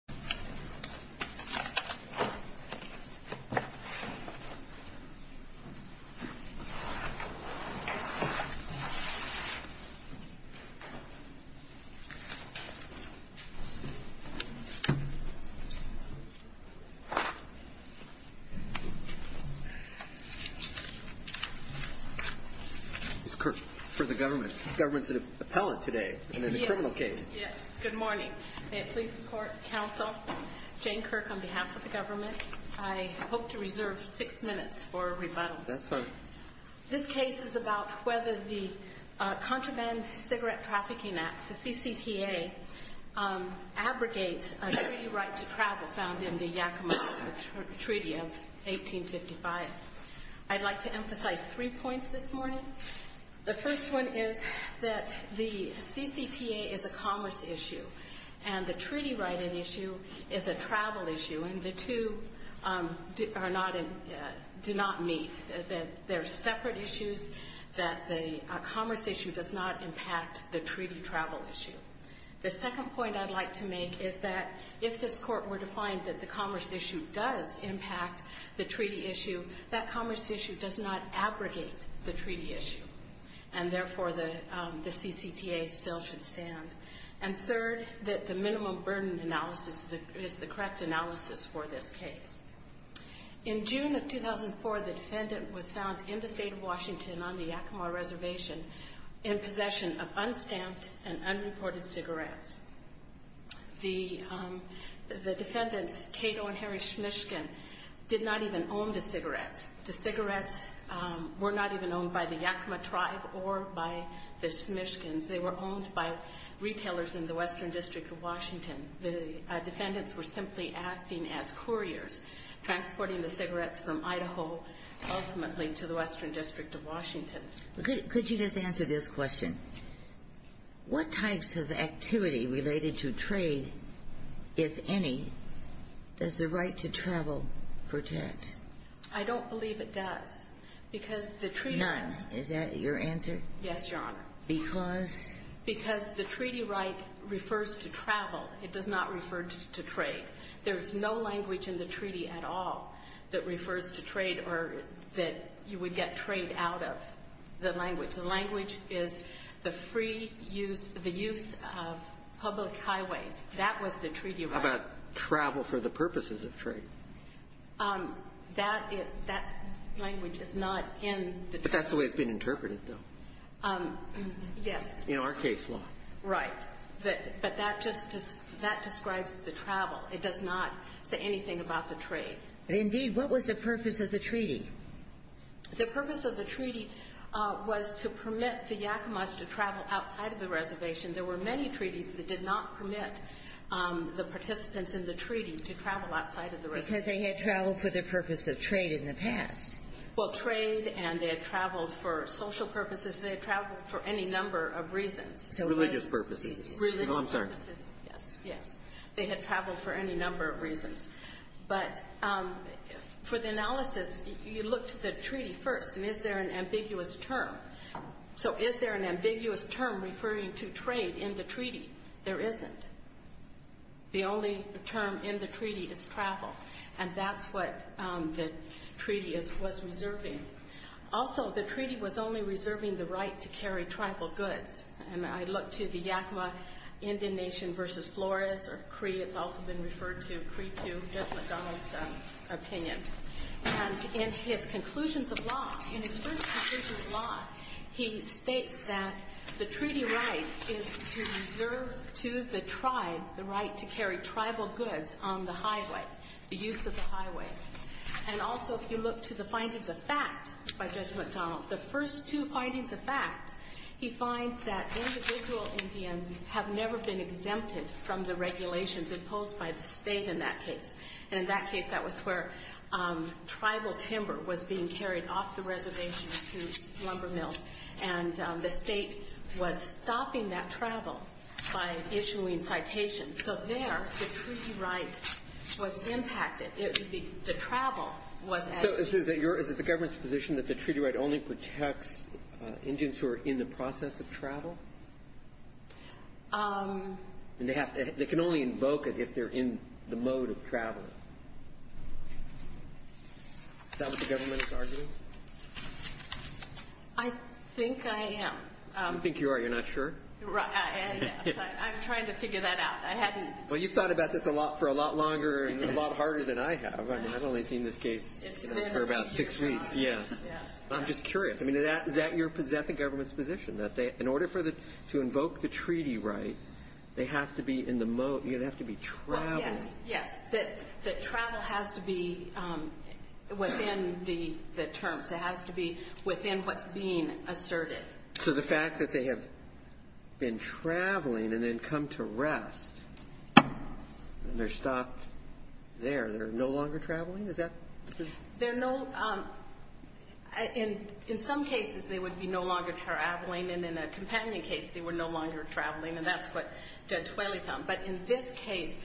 April 18, 2015 Bob Atkins Mr. Kirk! For the government. Is government the appellate today in to the criminal case? Yes. Yes. Good morning. May it please the court, counsel, Jane Kirk, on behalf of the government. I hope to reserve six minutes for rebuttal. That's fine. This case is about whether the Contraband Cigarette Trafficking Act, the CCTA, abrogates a treaty right to travel found in the Yakima Treaty of 1855. I'd like to emphasize three points this morning. The first one is that the CCTA is a commerce issue, and the treaty-righted issue is a travel issue, and the two are not in — do not meet. They're separate issues, that the commerce issue does not impact the treaty travel issue. The second point I'd like to make is that if this Court were to find that the commerce issue does impact the treaty issue, that commerce issue does not abrogate the treaty issue, and therefore the CCTA still should stand. And third, that the minimum burden analysis is the correct analysis for this case. In June of 2004, the defendant was found in the state of Washington on the Yakima Reservation in possession of unstamped and unreported cigarettes. The defendants, Cato and Harry Smishkin, did not even own the cigarettes. The cigarettes were not even owned by the Yakima tribe or by the Smishkins. They were owned by retailers in the Western District of Washington. The defendants were simply acting as couriers, transporting the cigarettes from Idaho, ultimately, to the Western District of Washington. Could you just answer this question? What types of activity related to trade, if any, does the right to travel protect? I don't believe it does. Because the treaty — None. Is that your answer? Yes, Your Honor. Because? Because the treaty right refers to travel. It does not refer to trade. There's no language in the treaty at all that refers to trade or that you would get trade out of the language. The language is the free use — the use of public highways. That was the treaty right. How about travel for the purposes of trade? That is — that language is not in the treaty. But that's the way it's been interpreted, though. Yes. In our case law. Right. But that just — that describes the travel. It does not say anything about the trade. Indeed. What was the purpose of the treaty? The purpose of the treaty was to permit the Yakamas to travel outside of the reservation. There were many treaties that did not permit the participants in the treaty to travel outside of the reservation. Because they had traveled for the purpose of trade in the past. Well, trade and they had traveled for social purposes. They had traveled for any number of reasons. Religious purposes. Religious purposes. No, I'm sorry. Yes. Yes. They had traveled for any number of reasons. But for the analysis, you look to the treaty first. And is there an ambiguous term? So is there an ambiguous term referring to trade in the treaty? There isn't. The only term in the treaty is travel. And that's what the treaty was reserving. Also, the treaty was only reserving the right to carry tribal goods. And I look to the Yakama Indian Nation versus Flores or Cree. It's also been referred to, Cree II, Judge McDonald's opinion. And in his conclusions of law, in his first conclusions of law, he states that the treaty right is to reserve to the tribe the right to carry tribal goods on the highway, the use of the highways. And also, if you look to the findings of fact by Judge McDonald, the first two findings of fact, he finds that individual Indians have never been exempted from the regulations imposed by the state in that case. And in that case, that was where tribal timber was being carried off the reservation to lumber mills. And the state was stopping that travel by issuing citations. So there, the treaty right was impacted. The travel was added. So is it the government's position that the treaty right only protects Indians who are in the process of travel? They can only invoke it if they're in the mode of traveling. Is that what the government is arguing? I think I am. I think you are. You're not sure? I'm trying to figure that out. Well, you've thought about this for a lot longer and a lot harder than I have. I've only seen this case for about six weeks. Yes. I'm just curious. I mean, is that the government's position, that in order to invoke the treaty right, they have to be in the mode? They have to be traveling? Yes. Yes. That travel has to be within the terms. It has to be within what's being asserted. So the fact that they have been traveling and then come to rest and they're stopped there, they're no longer traveling? Is that? They're no, in some cases they would be no longer traveling, and in a companion case they were no longer traveling, and that's what Judge Whaley found. But in this case,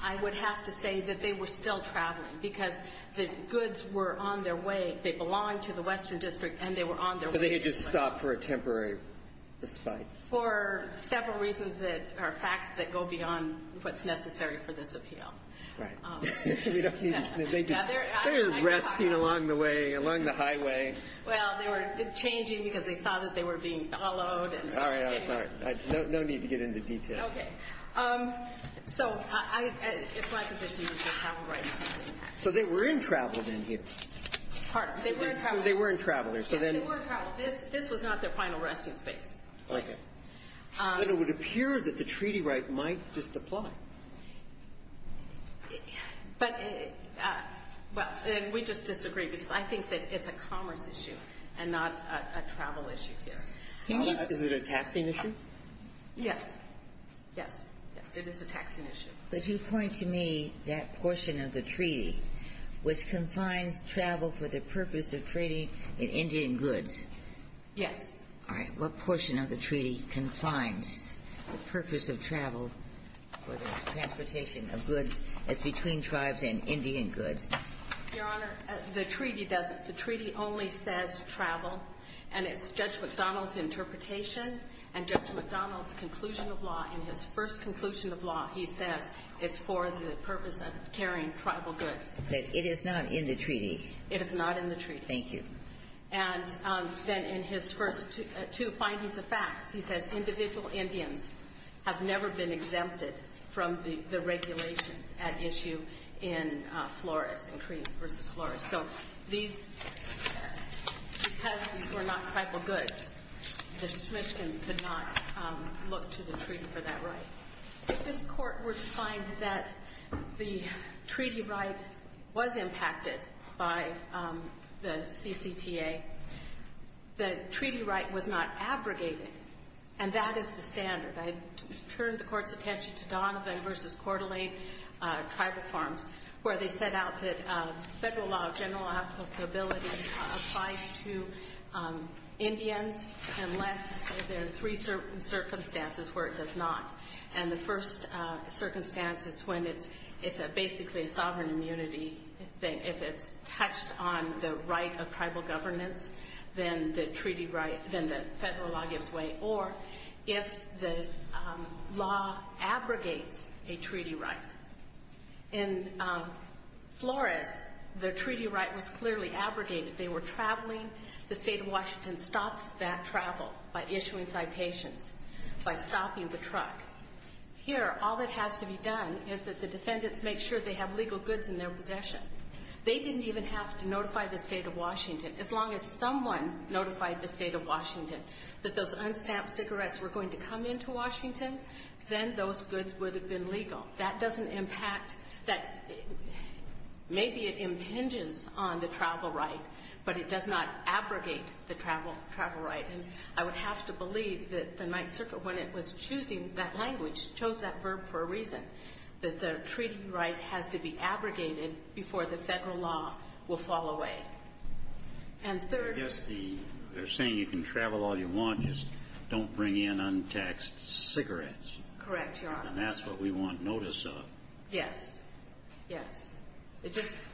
I would have to say that they were still traveling because the goods were on their way. They belonged to the Western District and they were on their way. So they had just stopped for a temporary respite. For several reasons that are facts that go beyond what's necessary for this appeal. Right. We don't need to think. They're resting along the way, along the highway. Well, they were changing because they saw that they were being followed. All right. All right. No need to get into details. Okay. So it's my position that they're traveling. So they were in travel then here? Pardon? They were in travel. Yes, they were in travel. This was not their final resting space. Okay. But it would appear that the treaty right might just apply. But, well, we just disagree because I think that it's a commerce issue and not a travel issue here. Is it a taxing issue? Yes. Yes. Yes, it is a taxing issue. Could you point to me that portion of the treaty which confines travel for the purpose of trading in Indian goods? Yes. All right. What portion of the treaty confines the purpose of travel for the transportation of goods as between tribes and Indian goods? Your Honor, the treaty doesn't. The treaty only says travel. And it's Judge McDonnell's interpretation and Judge McDonnell's conclusion of law. In his first conclusion of law, he says it's for the purpose of carrying tribal goods. But it is not in the treaty. It is not in the treaty. Thank you. And then in his first two findings of facts, he says individual Indians have never been exempted from the regulations at issue in Flores, in Crees v. Flores. So these, because these were not tribal goods, the Smithsons could not look to the treaty for that right. If this Court were to find that the treaty right was impacted by the CCTA, the treaty right was not abrogated. And that is the standard. I turned the Court's attention to Donovan v. Coeur d'Alene Tribal Farms, where they set out that federal law, general law applicability applies to Indians unless there are three circumstances where it does not. And the first circumstance is when it's basically a sovereign immunity. If it's touched on the right of tribal governance, then the treaty right, then the federal law gives way. Or if the law abrogates a treaty right. In Flores, the treaty right was clearly abrogated. They were traveling. The State of Washington stopped that travel by issuing citations, by stopping the truck. Here, all that has to be done is that the defendants make sure they have legal goods in their possession. They didn't even have to notify the State of Washington. As long as someone notified the State of Washington that those unstamped cigarettes were going to come into Washington, then those goods would have been legal. That doesn't impact that. Maybe it impinges on the travel right, but it does not abrogate the travel right. And I would have to believe that the Ninth Circuit, when it was choosing that language, chose that verb for a reason, that the treaty right has to be abrogated before the federal law will fall away. And third. I guess they're saying you can travel all you want, just don't bring in untaxed cigarettes. Correct, Your Honor. And that's what we want notice of. Yes. Yes.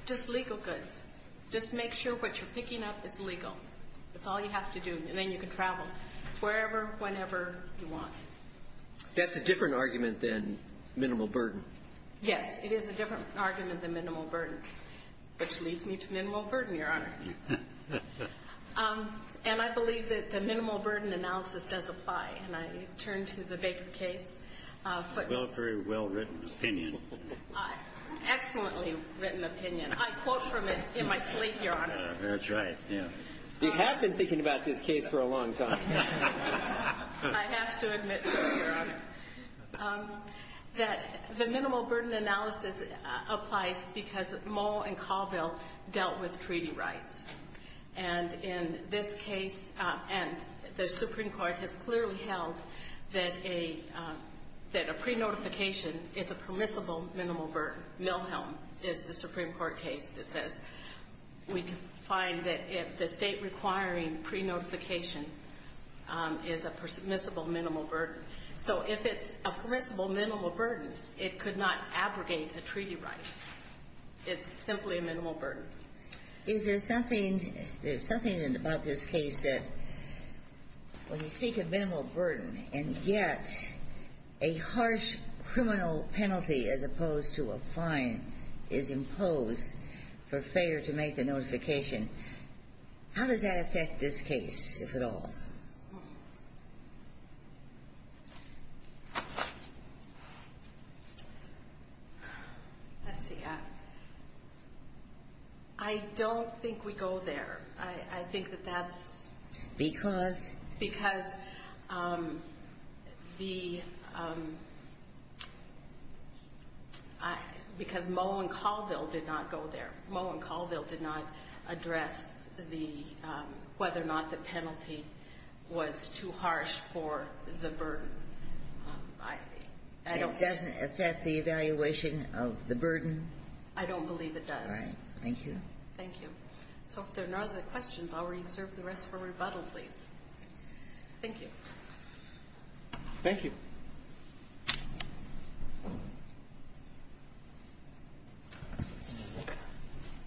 Just legal goods. Just make sure what you're picking up is legal. That's all you have to do, and then you can travel wherever, whenever you want. That's a different argument than minimal burden. Yes, it is a different argument than minimal burden, which leads me to minimal burden, Your Honor. And I believe that the minimal burden analysis does apply. And I turn to the Baker case. Very well-written opinion. Excellently written opinion. I quote from it in my sleep, Your Honor. That's right. You have been thinking about this case for a long time. I have to admit, sir, Your Honor, that the minimal burden analysis applies because Moe and Caldwell dealt with treaty rights. And in this case, and the Supreme Court has clearly held that a pre-notification is a permissible minimal burden. Miller-Milhelm is the Supreme Court case that says we can find that if the State requiring pre-notification is a permissible minimal burden. So if it's a permissible minimal burden, it could not abrogate a treaty right. It's simply a minimal burden. Is there something about this case that, when you speak of minimal burden, and yet a harsh criminal penalty as opposed to a fine is imposed for failure to make the notification, how does that affect this case, if at all? Hmm. Let's see. I don't think we go there. I think that that's... Because? Because Moe and Caldwell did not go there. Moe and Caldwell did not address whether or not the penalty was too harsh for the burden. It doesn't affect the evaluation of the burden? I don't believe it does. All right. Thank you. Thank you. So if there are no other questions, I'll reserve the rest for rebuttal, please. Thank you. Thank you.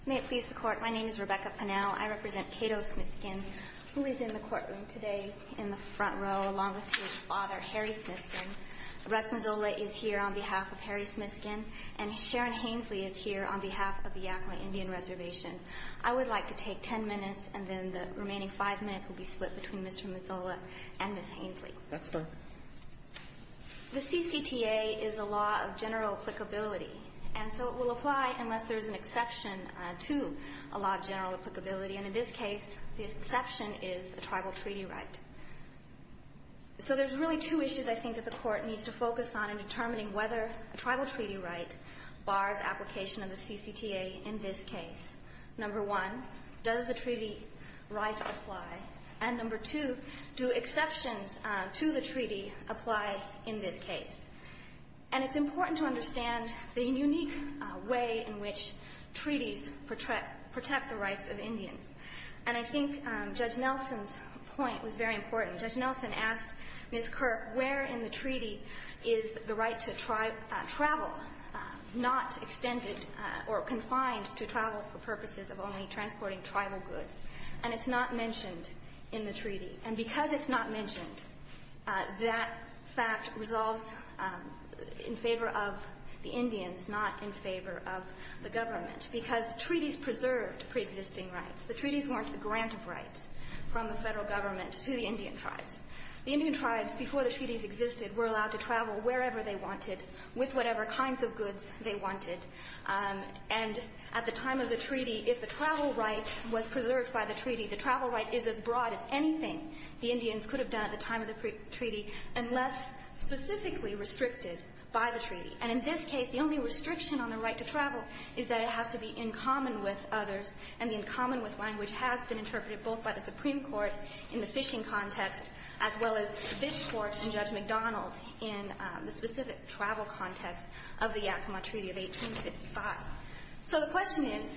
May it please the Court. My name is Rebecca Pinnell. I represent Cato Smitskin, who is in the courtroom today in the front row, along with his father, Harry Smitskin. Russ Mazzola is here on behalf of Harry Smitskin, and Sharon Hainsley is here on behalf of the Yakama Indian Reservation. I would like to take ten minutes, and then the remaining five minutes will be split between Mr. Mazzola and Ms. Hainsley. That's fine. The CCTA is a law of general applicability, and so it will apply unless there is an exception to a law of general applicability. And in this case, the exception is a tribal treaty right. So there's really two issues I think that the Court needs to focus on in determining whether a tribal treaty right bars application of the CCTA in this case. Number one, does the treaty right apply? And number two, do exceptions to the treaty apply in this case? And it's important to understand the unique way in which treaties protect the rights of Indians. And I think Judge Nelson's point was very important. Judge Nelson asked Ms. Kirk, where in the treaty is the right to travel not extended or confined to travel for purposes of only transporting tribal goods? And it's not mentioned in the treaty. And because it's not mentioned, that fact resolves in favor of the Indians, not in favor of the government, because treaties preserved preexisting rights. The treaties weren't the grant of rights from the Federal Government to the Indian tribes. The Indian tribes, before the treaties existed, were allowed to travel wherever they wanted with whatever kinds of goods they wanted. And at the time of the treaty, if the travel right was preserved by the treaty, the travel right is as broad as anything the Indians could have done at the time of the treaty unless specifically restricted by the treaty. And in this case, the only restriction on the right to travel is that it has to be in common with others. And the in common with language has been interpreted both by the Supreme Court in the fishing context as well as this Court and Judge McDonald in the specific travel context of the Yakama Treaty of 1855. So the question is,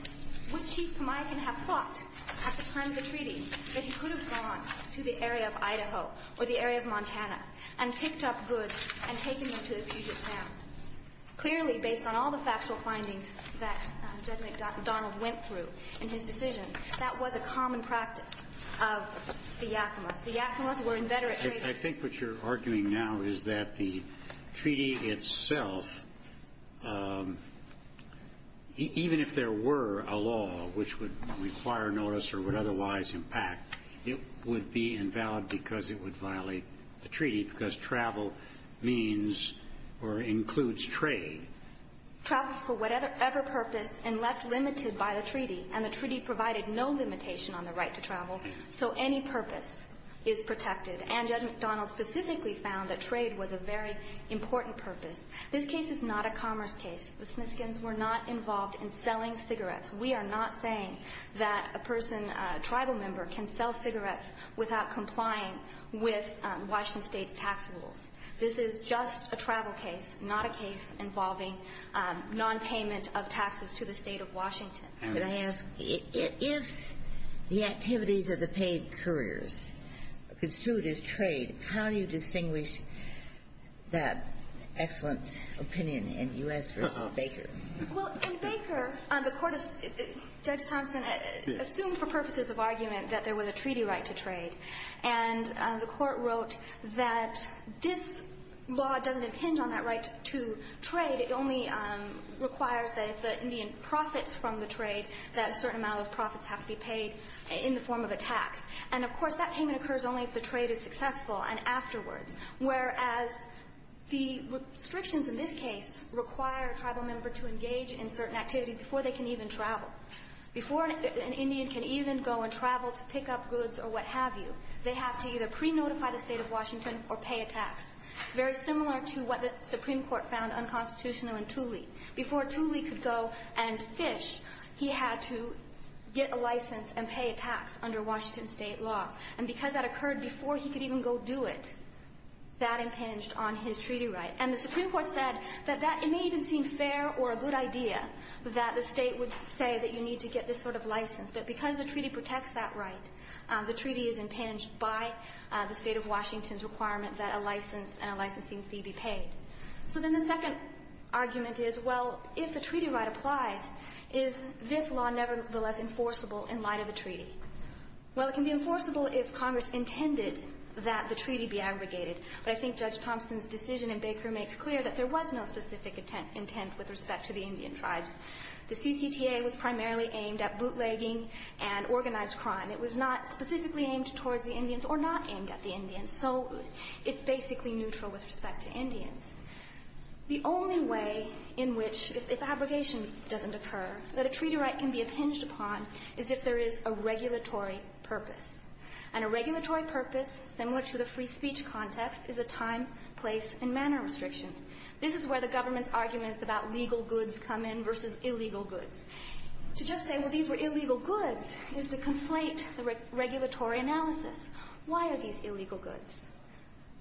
would Chief Kamiakin have thought at the time of the treaty that he could have gone to the area of Idaho or the area of Montana and picked up goods and taken them to the Puget Sound? Clearly, based on all the factual findings that Judge McDonald went through in his decision, that was a common practice of the Yakamas. The Yakamas were inveterate traders. I think what you're arguing now is that the treaty itself, even if there were a law which would require notice or would otherwise impact, it would be invalid because it would violate the treaty because travel means or includes trade. Travel for whatever purpose unless limited by the treaty. And the treaty provided no limitation on the right to travel, so any purpose is protected. And Judge McDonald specifically found that trade was a very important purpose. This case is not a commerce case. The Smithskins were not involved in selling cigarettes. We are not saying that a person, a tribal member, can sell cigarettes without complying with Washington State's tax rules. This is just a travel case, not a case involving nonpayment of taxes to the State of Washington. Could I ask, if the activities of the paid couriers could suit as trade, how do you distinguish that excellent opinion in U.S. v. Baker? Well, in Baker, Judge Thompson assumed for purposes of argument that there was a treaty right to trade. And the Court wrote that this law doesn't impinge on that right to trade. It only requires that if the Indian profits from the trade, that a certain amount of profits have to be paid in the form of a tax. And, of course, that payment occurs only if the trade is successful and afterwards, whereas the restrictions in this case require a tribal member to engage in certain activities before they can even travel. Before an Indian can even go and travel to pick up goods or what have you, they have to either pre-notify the State of Washington or pay a tax, very similar to what the Supreme Court found unconstitutional in Tooley. Before Tooley could go and fish, he had to get a license and pay a tax under Washington State law. And because that occurred before he could even go do it, that impinged on his treaty right. And the Supreme Court said that it may even seem fair or a good idea that the State would say that you need to get this sort of license. But because the treaty protects that right, the treaty is impinged by the State of Washington's requirement that a license and a licensing fee be paid. So then the second argument is, well, if the treaty right applies, is this law nevertheless enforceable in light of a treaty? Well, it can be enforceable if Congress intended that the treaty be abrogated. But I think Judge Thompson's decision in Baker makes clear that there was no specific intent with respect to the Indian tribes. The CCTA was primarily aimed at bootlegging and organized crime. It was not specifically aimed towards the Indians or not aimed at the Indians. The only way in which, if abrogation doesn't occur, that a treaty right can be impinged upon is if there is a regulatory purpose. And a regulatory purpose, similar to the free speech context, is a time, place, and manner restriction. This is where the government's arguments about legal goods come in versus illegal goods. To just say, well, these were illegal goods, is to conflate the regulatory analysis. Why are these illegal goods?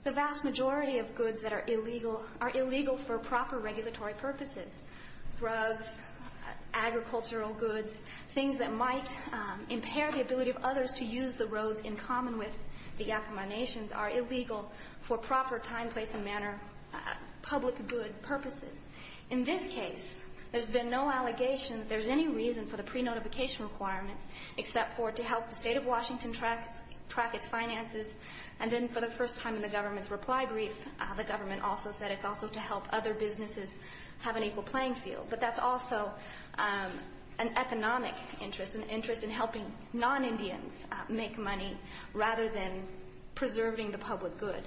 The vast majority of goods that are illegal are illegal for proper regulatory purposes. Drugs, agricultural goods, things that might impair the ability of others to use the roads in common with the Yakama Nations are illegal for proper time, place, and manner public good purposes. In this case, there's been no allegation that there's any reason for the pre-notification requirement except for to help the state of Washington track its finances. And then for the first time in the government's reply brief, the government also said it's also to help other businesses have an equal playing field. But that's also an economic interest, an interest in helping non-Indians make money rather than preserving the public good.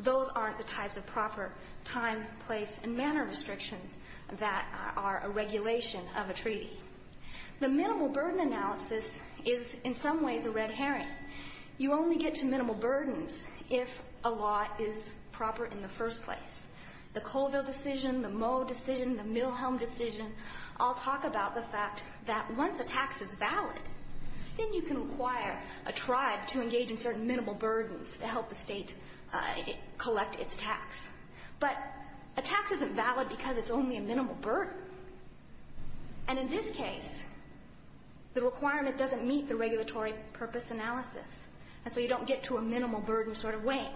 Those aren't the types of proper time, place, and manner restrictions that are a regulation of a treaty. The minimal burden analysis is in some ways a red herring. You only get to minimal burdens if a law is proper in the first place. The Colville decision, the Moe decision, the Milhelm decision all talk about the fact that once a tax is valid, then you can require a tribe to engage in certain minimal burdens to help the state collect its tax. But a tax isn't valid because it's only a minimal burden. And in this case, the requirement doesn't meet the regulatory purpose analysis. And so you don't get to a minimal burden sort of weighing.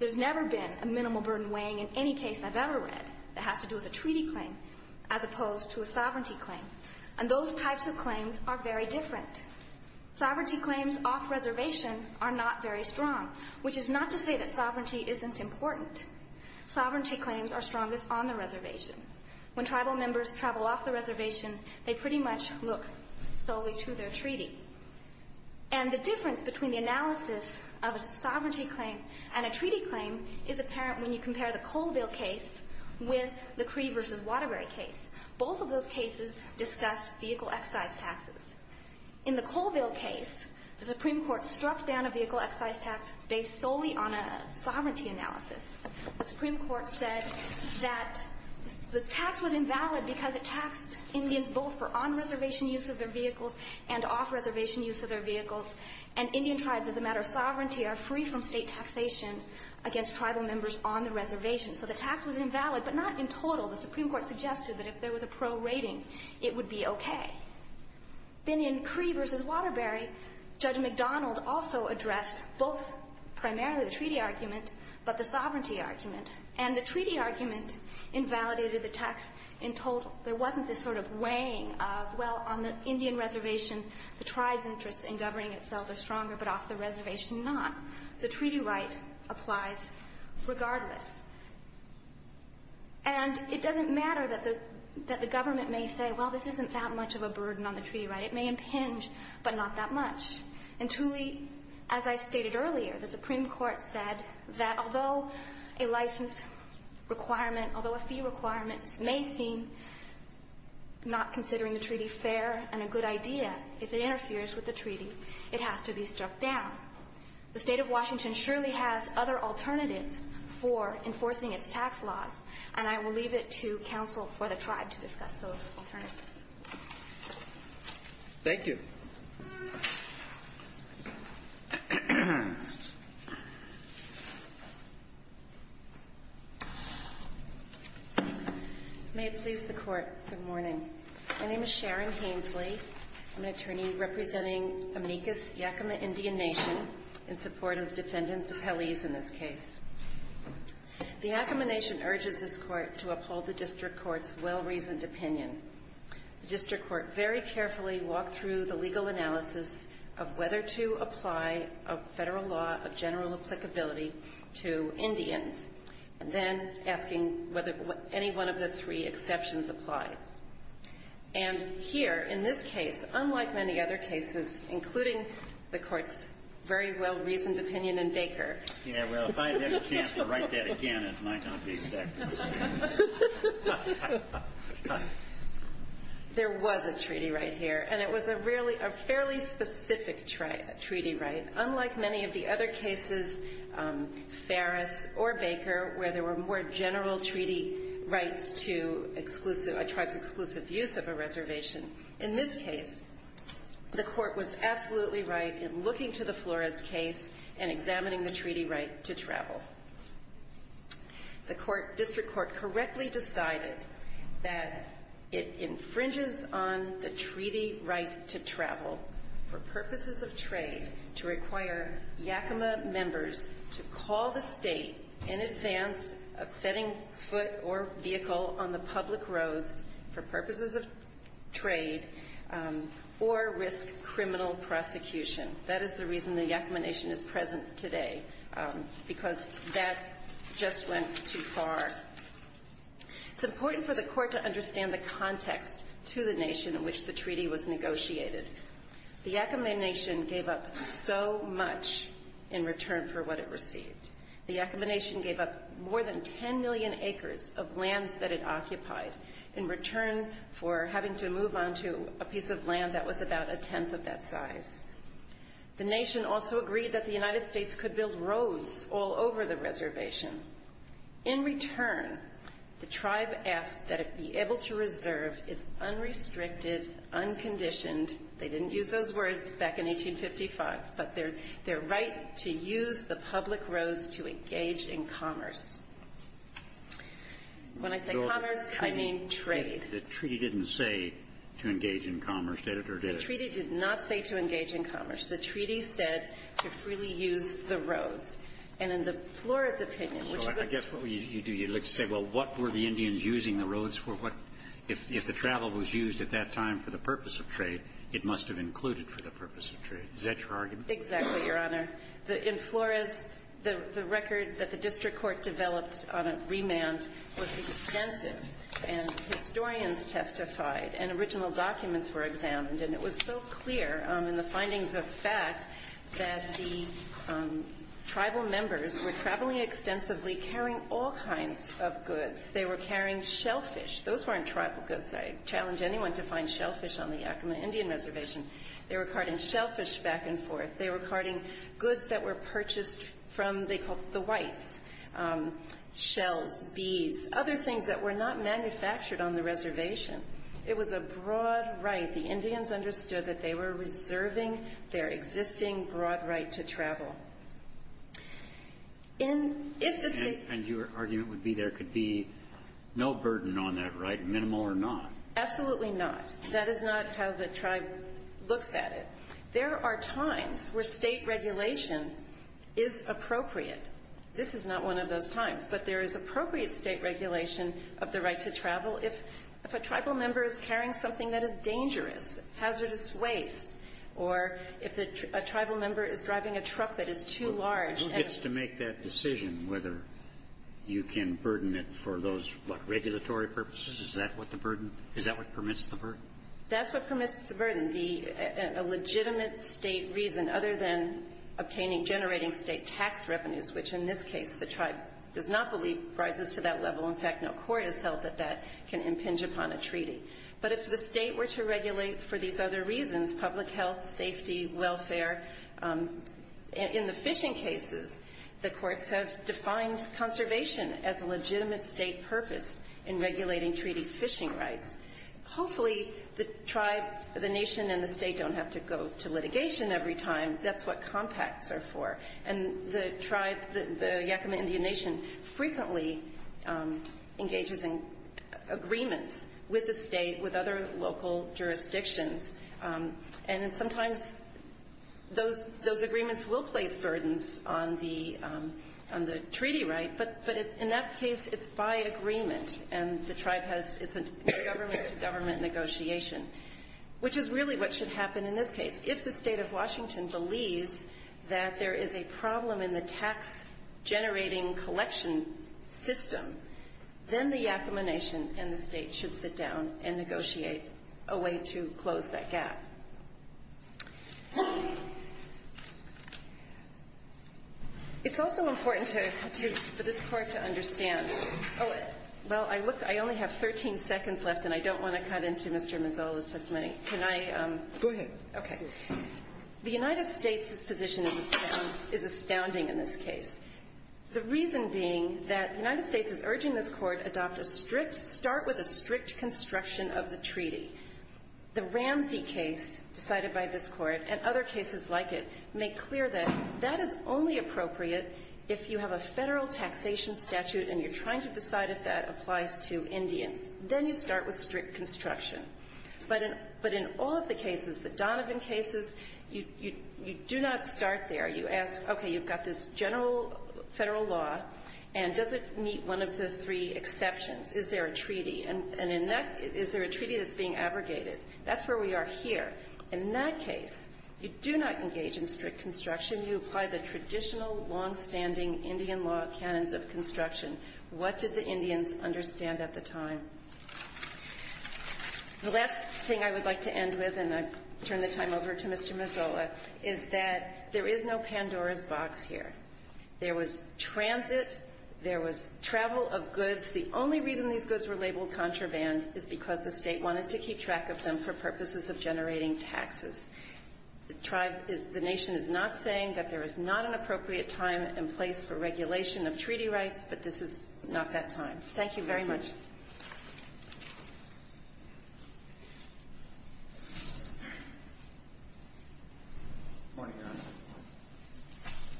There's never been a minimal burden weighing in any case I've ever read that has to do with a treaty claim as opposed to a sovereignty claim. And those types of claims are very different. Sovereignty claims off reservation are not very strong, which is not to say that sovereignty isn't important. Sovereignty claims are strongest on the reservation. When tribal members travel off the reservation, they pretty much look solely to their treaty. And the difference between the analysis of a sovereignty claim and a treaty claim is apparent when you compare the Colville case with the Cree versus Waterbury case. Both of those cases discussed vehicle excise taxes. In the Colville case, the Supreme Court struck down a vehicle excise tax based solely on a sovereignty analysis. The Supreme Court said that the tax was invalid because it taxed Indians both for on-reservation use of their vehicles and off-reservation use of their vehicles. And Indian tribes, as a matter of sovereignty, are free from state taxation against tribal members on the reservation. So the tax was invalid, but not in total. The Supreme Court suggested that if there was a pro rating, it would be okay. Then in Cree versus Waterbury, Judge McDonald also addressed both primarily the treaty argument but the sovereignty argument. And the treaty argument invalidated the tax in total. There wasn't this sort of weighing of, well, on the Indian reservation, the tribe's interests in governing itself are stronger, but off the reservation not. The treaty right applies regardless. And it doesn't matter that the government may say, well, this isn't that much of a burden on the treaty right. It may impinge, but not that much. And truly, as I stated earlier, the Supreme Court said that although a license requirement, although a fee requirement may seem not considering the treaty fair and a good idea if it interferes with the treaty, it has to be struck down. The State of Washington surely has other alternatives for enforcing its tax laws, and I will leave it to counsel for the tribe to discuss those alternatives. Thank you. May it please the Court, good morning. My name is Sharon Hainsley. I'm an attorney representing Amicus Yakima Indian Nation in support of defendants' appellees in this case. The Yakima Nation urges this Court to uphold the district court's well-reasoned opinion. The district court very carefully walked through the legal analysis of whether to apply a federal law of general applicability to Indians, and then asking whether any one of the three exceptions apply. And here, in this case, unlike many other cases, including the Court's very well-reasoned opinion in Baker Yeah, well, if I had a chance to write that again, it might not be exactly the same. There was a treaty right here, and it was a fairly specific treaty right, unlike many of the other cases, Ferris or Baker, where there were more general treaty rights to a tribe's exclusive use of a reservation. In this case, the Court was absolutely right in looking to the Flores case and examining the treaty right to travel. The district court correctly decided that it infringes on the treaty right to travel for purposes of trade to require Yakima members to call the state in advance of setting foot or vehicle on the public roads for purposes of trade or risk criminal prosecution. That is the reason the Yakima Nation is present today, because that just went too far. It's important for the Court to understand the context to the nation in which the treaty was negotiated. The Yakima Nation gave up so much in return for what it received. The Yakima Nation gave up more than 10 million acres of lands that it occupied in return for having to move on to a piece of land that was about a tenth of that size. The nation also agreed that the United States could build roads all over the reservation. In return, the tribe asked that it be able to reserve its unrestricted, unconditioned they didn't use those words back in 1855, but their right to use the public roads to engage in commerce. When I say commerce, I mean trade. The treaty didn't say to engage in commerce. Did it or did it? The treaty did not say to engage in commerce. The treaty said to freely use the roads. And in the Flores opinion, which is a... So I guess what you do, you say, well, what were the Indians using the roads for? If the travel was used at that time for the purpose of trade, it must have included for the purpose of trade. Is that your argument? Exactly, Your Honor. In Flores, the record that the district court developed on a remand was extensive, and historians testified, and original documents were examined. And it was so clear in the findings of fact that the tribal members were traveling extensively, carrying all kinds of goods. They were carrying shellfish. Those weren't tribal goods. I challenge anyone to find shellfish on the Yakama Indian Reservation. They were carting shellfish back and forth. They were carting goods that were purchased from the whites, shells, beads, other things that were not manufactured on the reservation. It was a broad right. The Indians understood that they were reserving their existing broad right to travel. And if the state... And your argument would be there could be no burden on that right, minimal or not. Absolutely not. That is not how the tribe looks at it. There are times where state regulation is appropriate. This is not one of those times. But there is appropriate state regulation of the right to travel. If a tribal member is carrying something that is dangerous, hazardous waste, or if a tribal member is driving a truck that is too large... Who gets to make that decision whether you can burden it for those regulatory purposes? Is that what the burden? Is that what permits the burden? That's what permits the burden. A legitimate state reason other than obtaining, generating state tax revenues, which in this case the tribe does not believe rises to that level. In fact, no court has held that that can impinge upon a treaty. But if the state were to regulate for these other reasons, public health, safety, welfare, in the fishing cases the courts have defined conservation as a legitimate state purpose in regulating treaty fishing rights. Hopefully the tribe, the nation, and the state don't have to go to litigation every time. That's what compacts are for. And the tribe, the Yakama Indian Nation, frequently engages in agreements with the state, with other local jurisdictions. And sometimes those agreements will place burdens on the treaty right. But in that case, it's by agreement. And the tribe has a government-to-government negotiation, which is really what should happen in this case. If the state of Washington believes that there is a problem in the tax-generating collection system, then the Yakama Nation and the state should sit down and negotiate a way to close that gap. It's also important for this Court to understand. Well, I only have 13 seconds left, and I don't want to cut into Mr. Mazzola's testimony. Can I? Go ahead. Okay. The United States' position is astounding in this case. The reason being that the United States is urging this Court adopt a strict start with a strict construction of the treaty. The Ramsey case decided by this Court and other cases like it make clear that that is only appropriate if you have a Federal taxation statute and you're trying to decide if that applies to Indians. Then you start with strict construction. But in all of the cases, the Donovan cases, you do not start there. You ask, okay, you've got this general Federal law, and does it meet one of the three exceptions? Is there a treaty? And in that, is there a treaty that's being abrogated? That's where we are here. In that case, you do not engage in strict construction. You apply the traditional, longstanding Indian law canons of construction. What did the Indians understand at the time? The last thing I would like to end with, and I turn the time over to Mr. Mazzolla, is that there is no Pandora's box here. There was transit. There was travel of goods. The only reason these goods were labeled contraband is because the State wanted to keep track of them for purposes of generating taxes. The Nation is not saying that there is not an appropriate time and place for regulation of treaty rights, but this is not that time. Thank you very much. Mazzolla. Good morning, Your Honor.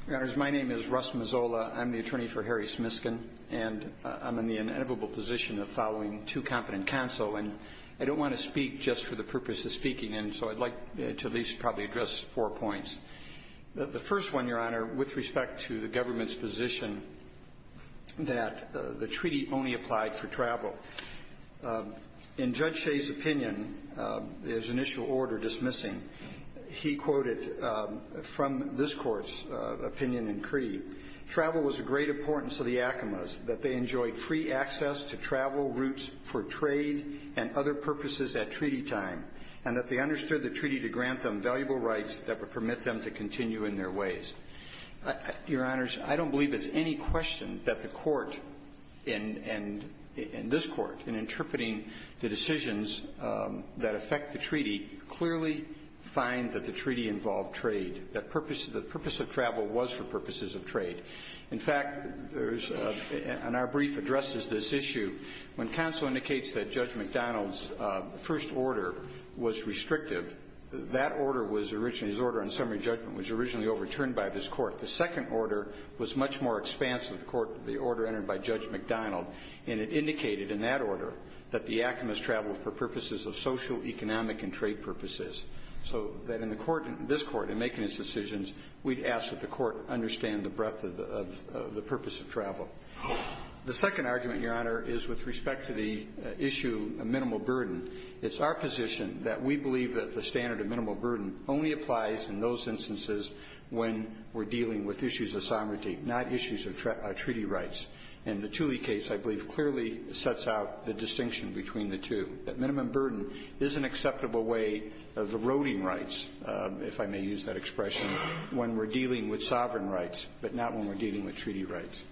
Your Honors, my name is Russ Mazzolla. I'm the attorney for Harry Smiskin, and I'm in the inevitable position of following two competent counsel. And I don't want to speak just for the purpose of speaking, and so I'd like to at least probably address four points. The first one, Your Honor, with respect to the government's position that the treaty only applied for travel. In Judge Shea's opinion, his initial order dismissing, he quoted from this Court's opinion in Cree, travel was of great importance to the Acomas, that they enjoyed free access to travel routes for trade and other purposes at treaty time, and that they understood the treaty to grant them valuable rights that would permit them to continue in their ways. Your Honors, I don't believe it's any question that the Court and this Court, in interpreting the decisions that affect the treaty, clearly find that the treaty involved trade, that the purpose of travel was for purposes of trade. In fact, there's and our brief addresses this issue when counsel indicates that Judge McDonald's order was restrictive, that order was originally, his order on summary judgment was originally overturned by this Court. The second order was much more expansive, the order entered by Judge McDonald, and it indicated in that order that the Acomas traveled for purposes of social, economic, and trade purposes. So that in the Court, this Court, in making its decisions, we'd ask that the Court understand the breadth of the purpose of travel. The second argument, Your Honor, is with respect to the issue of minimal burden. It's our position that we believe that the standard of minimal burden only applies in those instances when we're dealing with issues of sovereignty, not issues of treaty rights. And the Tooley case, I believe, clearly sets out the distinction between the two, that minimum burden is an acceptable way of eroding rights, if I may use that expression, when we're dealing with sovereign rights, but not when we're dealing with treaty rights.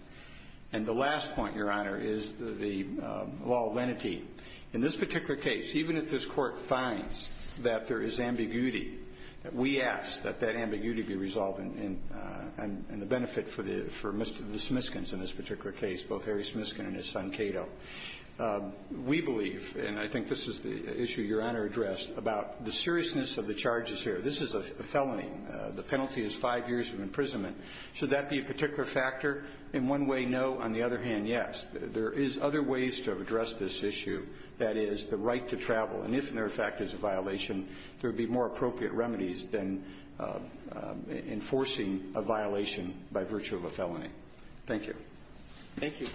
And the last point, Your Honor, is the law of lenity. In this particular case, even if this Court finds that there is ambiguity, we ask that that ambiguity be resolved, and the benefit for the Smithskins in this particular case, both Harry Smithskin and his son Cato. We believe, and I think this is the issue Your Honor addressed, about the seriousness of the charges here. This is a felony. The penalty is five years of imprisonment. Should that be a particular factor? In one way, no. On the other hand, yes. There is other ways to address this issue. That is, the right to travel. And if, in their effect, it's a violation, there would be more appropriate remedies than enforcing a violation by virtue of a felony. Thank you. Thank you.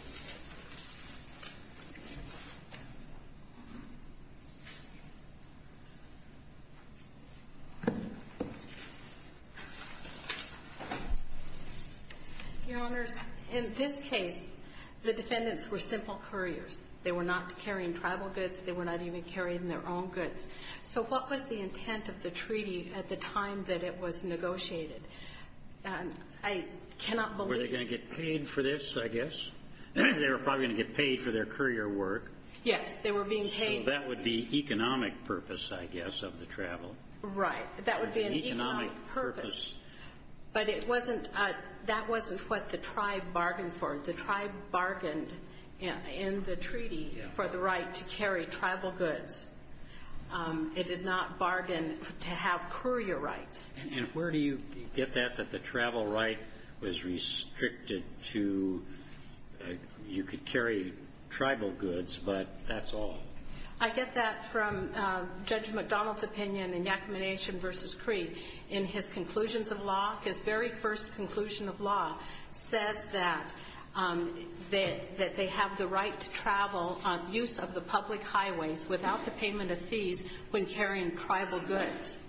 Your Honors, in this case, the defendants were simple couriers. They were not carrying tribal goods. They were not even carrying their own goods. So what was the intent of the treaty at the time that it was negotiated? I cannot believe you. They were probably going to get paid for this, I guess. They were probably going to get paid for their courier work. Yes, they were being paid. That would be economic purpose, I guess, of the travel. Right. That would be an economic purpose. But that wasn't what the tribe bargained for. The tribe bargained in the treaty for the right to carry tribal goods. It did not bargain to have courier rights. And where do you get that, that the travel right was restricted to you could carry tribal goods, but that's all? I get that from Judge McDonald's opinion in Yakima Nation v. Cree. In his conclusions of law, his very first conclusion of law says that they have the right to travel on use of the public highways without the payment of fees when carrying tribal goods.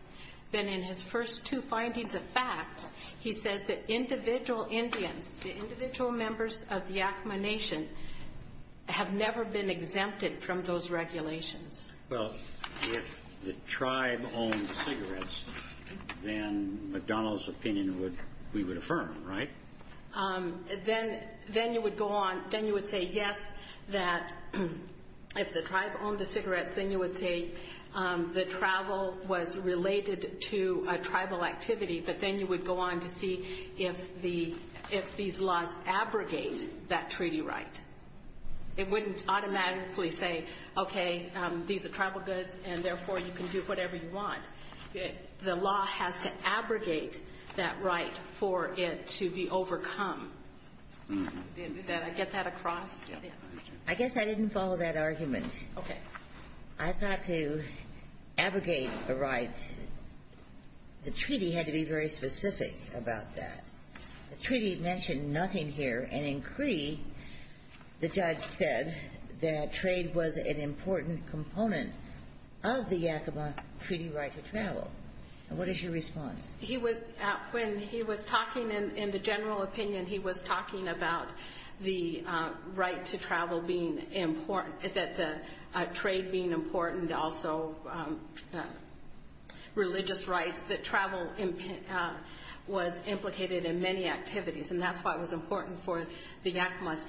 Then in his first two findings of facts, he says that individual Indians, the individual members of Yakima Nation, have never been exempted from those regulations. Well, if the tribe owned cigarettes, then McDonald's opinion we would affirm, right? Then you would go on, then you would say, yes, that if the tribe owned the cigarettes, then you would say the travel was related to a tribal activity, but then you would go on to see if these laws abrogate that treaty right. It wouldn't automatically say, okay, these are tribal goods, and therefore you can do whatever you want. The law has to abrogate that right for it to be overcome. Did I get that across? I guess I didn't follow that argument. Okay. I thought to abrogate a right, the treaty had to be very specific about that. The treaty mentioned nothing here, and in Cree, the judge said that trade was an important component of the Yakima treaty right to travel. What is your response? When he was talking in the general opinion, he was talking about the right to travel being important, that the trade being important, also religious rights, that travel was implicated in many activities, and that's why it was important for the Yakimas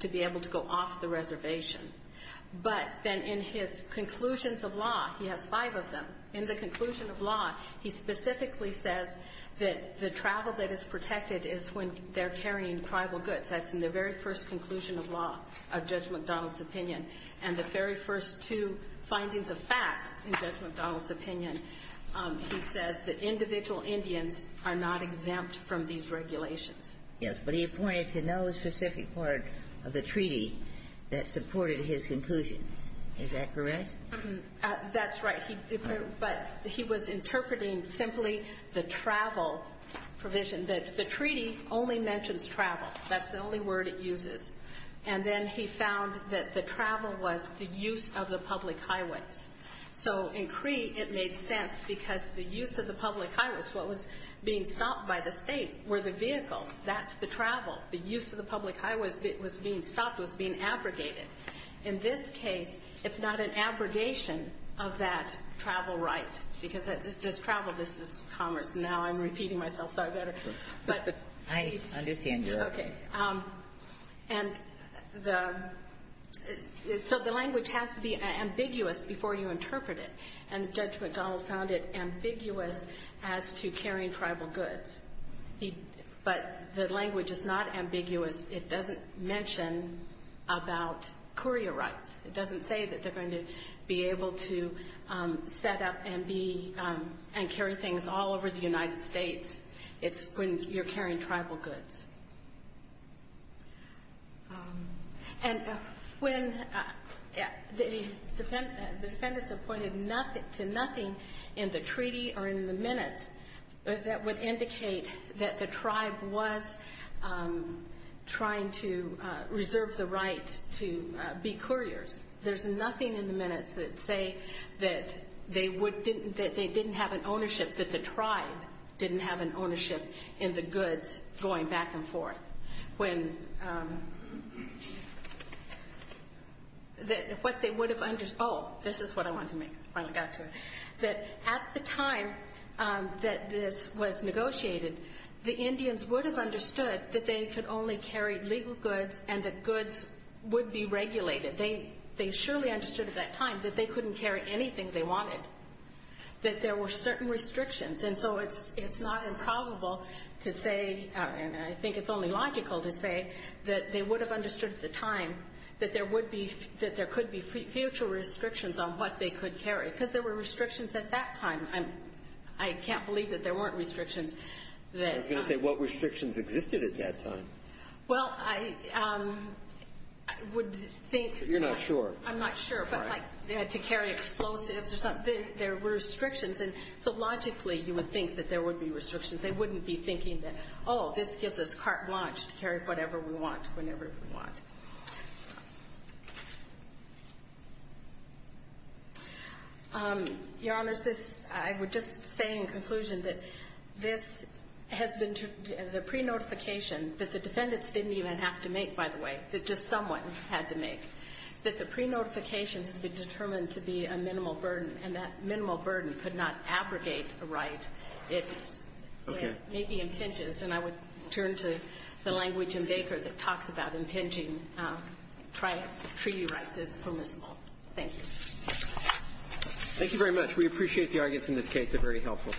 to be able to go off the reservation. But then in his conclusions of law, he has five of them. In the conclusion of law, he specifically says that the travel that is protected is when they're carrying tribal goods. That's in the very first conclusion of law of Judge McDonald's opinion. And the very first two findings of facts in Judge McDonald's opinion, he says that individual Indians are not exempt from these regulations. Yes, but he pointed to no specific part of the treaty that supported his conclusion. Is that correct? That's right. But he was interpreting simply the travel provision. The treaty only mentions travel. That's the only word it uses. And then he found that the travel was the use of the public highways. So in Cree, it made sense because the use of the public highways, what was being stopped by the state, were the vehicles. That's the travel. The use of the public highways was being stopped, was being abrogated. In this case, it's not an abrogation of that travel right because it's just travel. This is commerce. Now I'm repeating myself. Sorry about that. But I understand your opinion. And so the language has to be ambiguous before you interpret it. And Judge McDonald found it ambiguous as to carrying tribal goods. But the language is not ambiguous. It doesn't mention about courier rights. It doesn't say that they're going to be able to set up and carry things all over the United States. It's when you're carrying tribal goods. And when the defendants appointed to nothing in the treaty or in the minutes, that would indicate that the tribe was trying to reserve the right to be couriers. There's nothing in the minutes that say that they didn't have an ownership, that the tribe didn't have an ownership in the goods going back and forth. Oh, this is what I wanted to make when I got to it. That at the time that this was negotiated, the Indians would have understood that they could only carry legal goods and that goods would be regulated. They surely understood at that time that they couldn't carry anything they wanted, that there were certain restrictions. And so it's not improbable to say, and I think it's only logical to say, that they would have understood at the time that there could be future restrictions on what they could carry, because there were restrictions at that time. I can't believe that there weren't restrictions. I was going to say, what restrictions existed at that time? Well, I would think... You're not sure. I'm not sure, but they had to carry explosives or something. There were restrictions, and so logically you would think that there would be restrictions. They wouldn't be thinking that, oh, this gives us carte blanche to carry whatever we want whenever we want. Your Honors, I would just say in conclusion that this has been the pre-notification that the defendants didn't even have to make, by the way, that just someone had to make. That the pre-notification has been determined to be a minimal burden, and that minimal burden could not abrogate a right. It's... Okay. It maybe impinges. And I would turn to the language in Baker that talks about impinging treaty rights as permissible. Thank you. Thank you very much. We appreciate the arguments in this case. They're very helpful.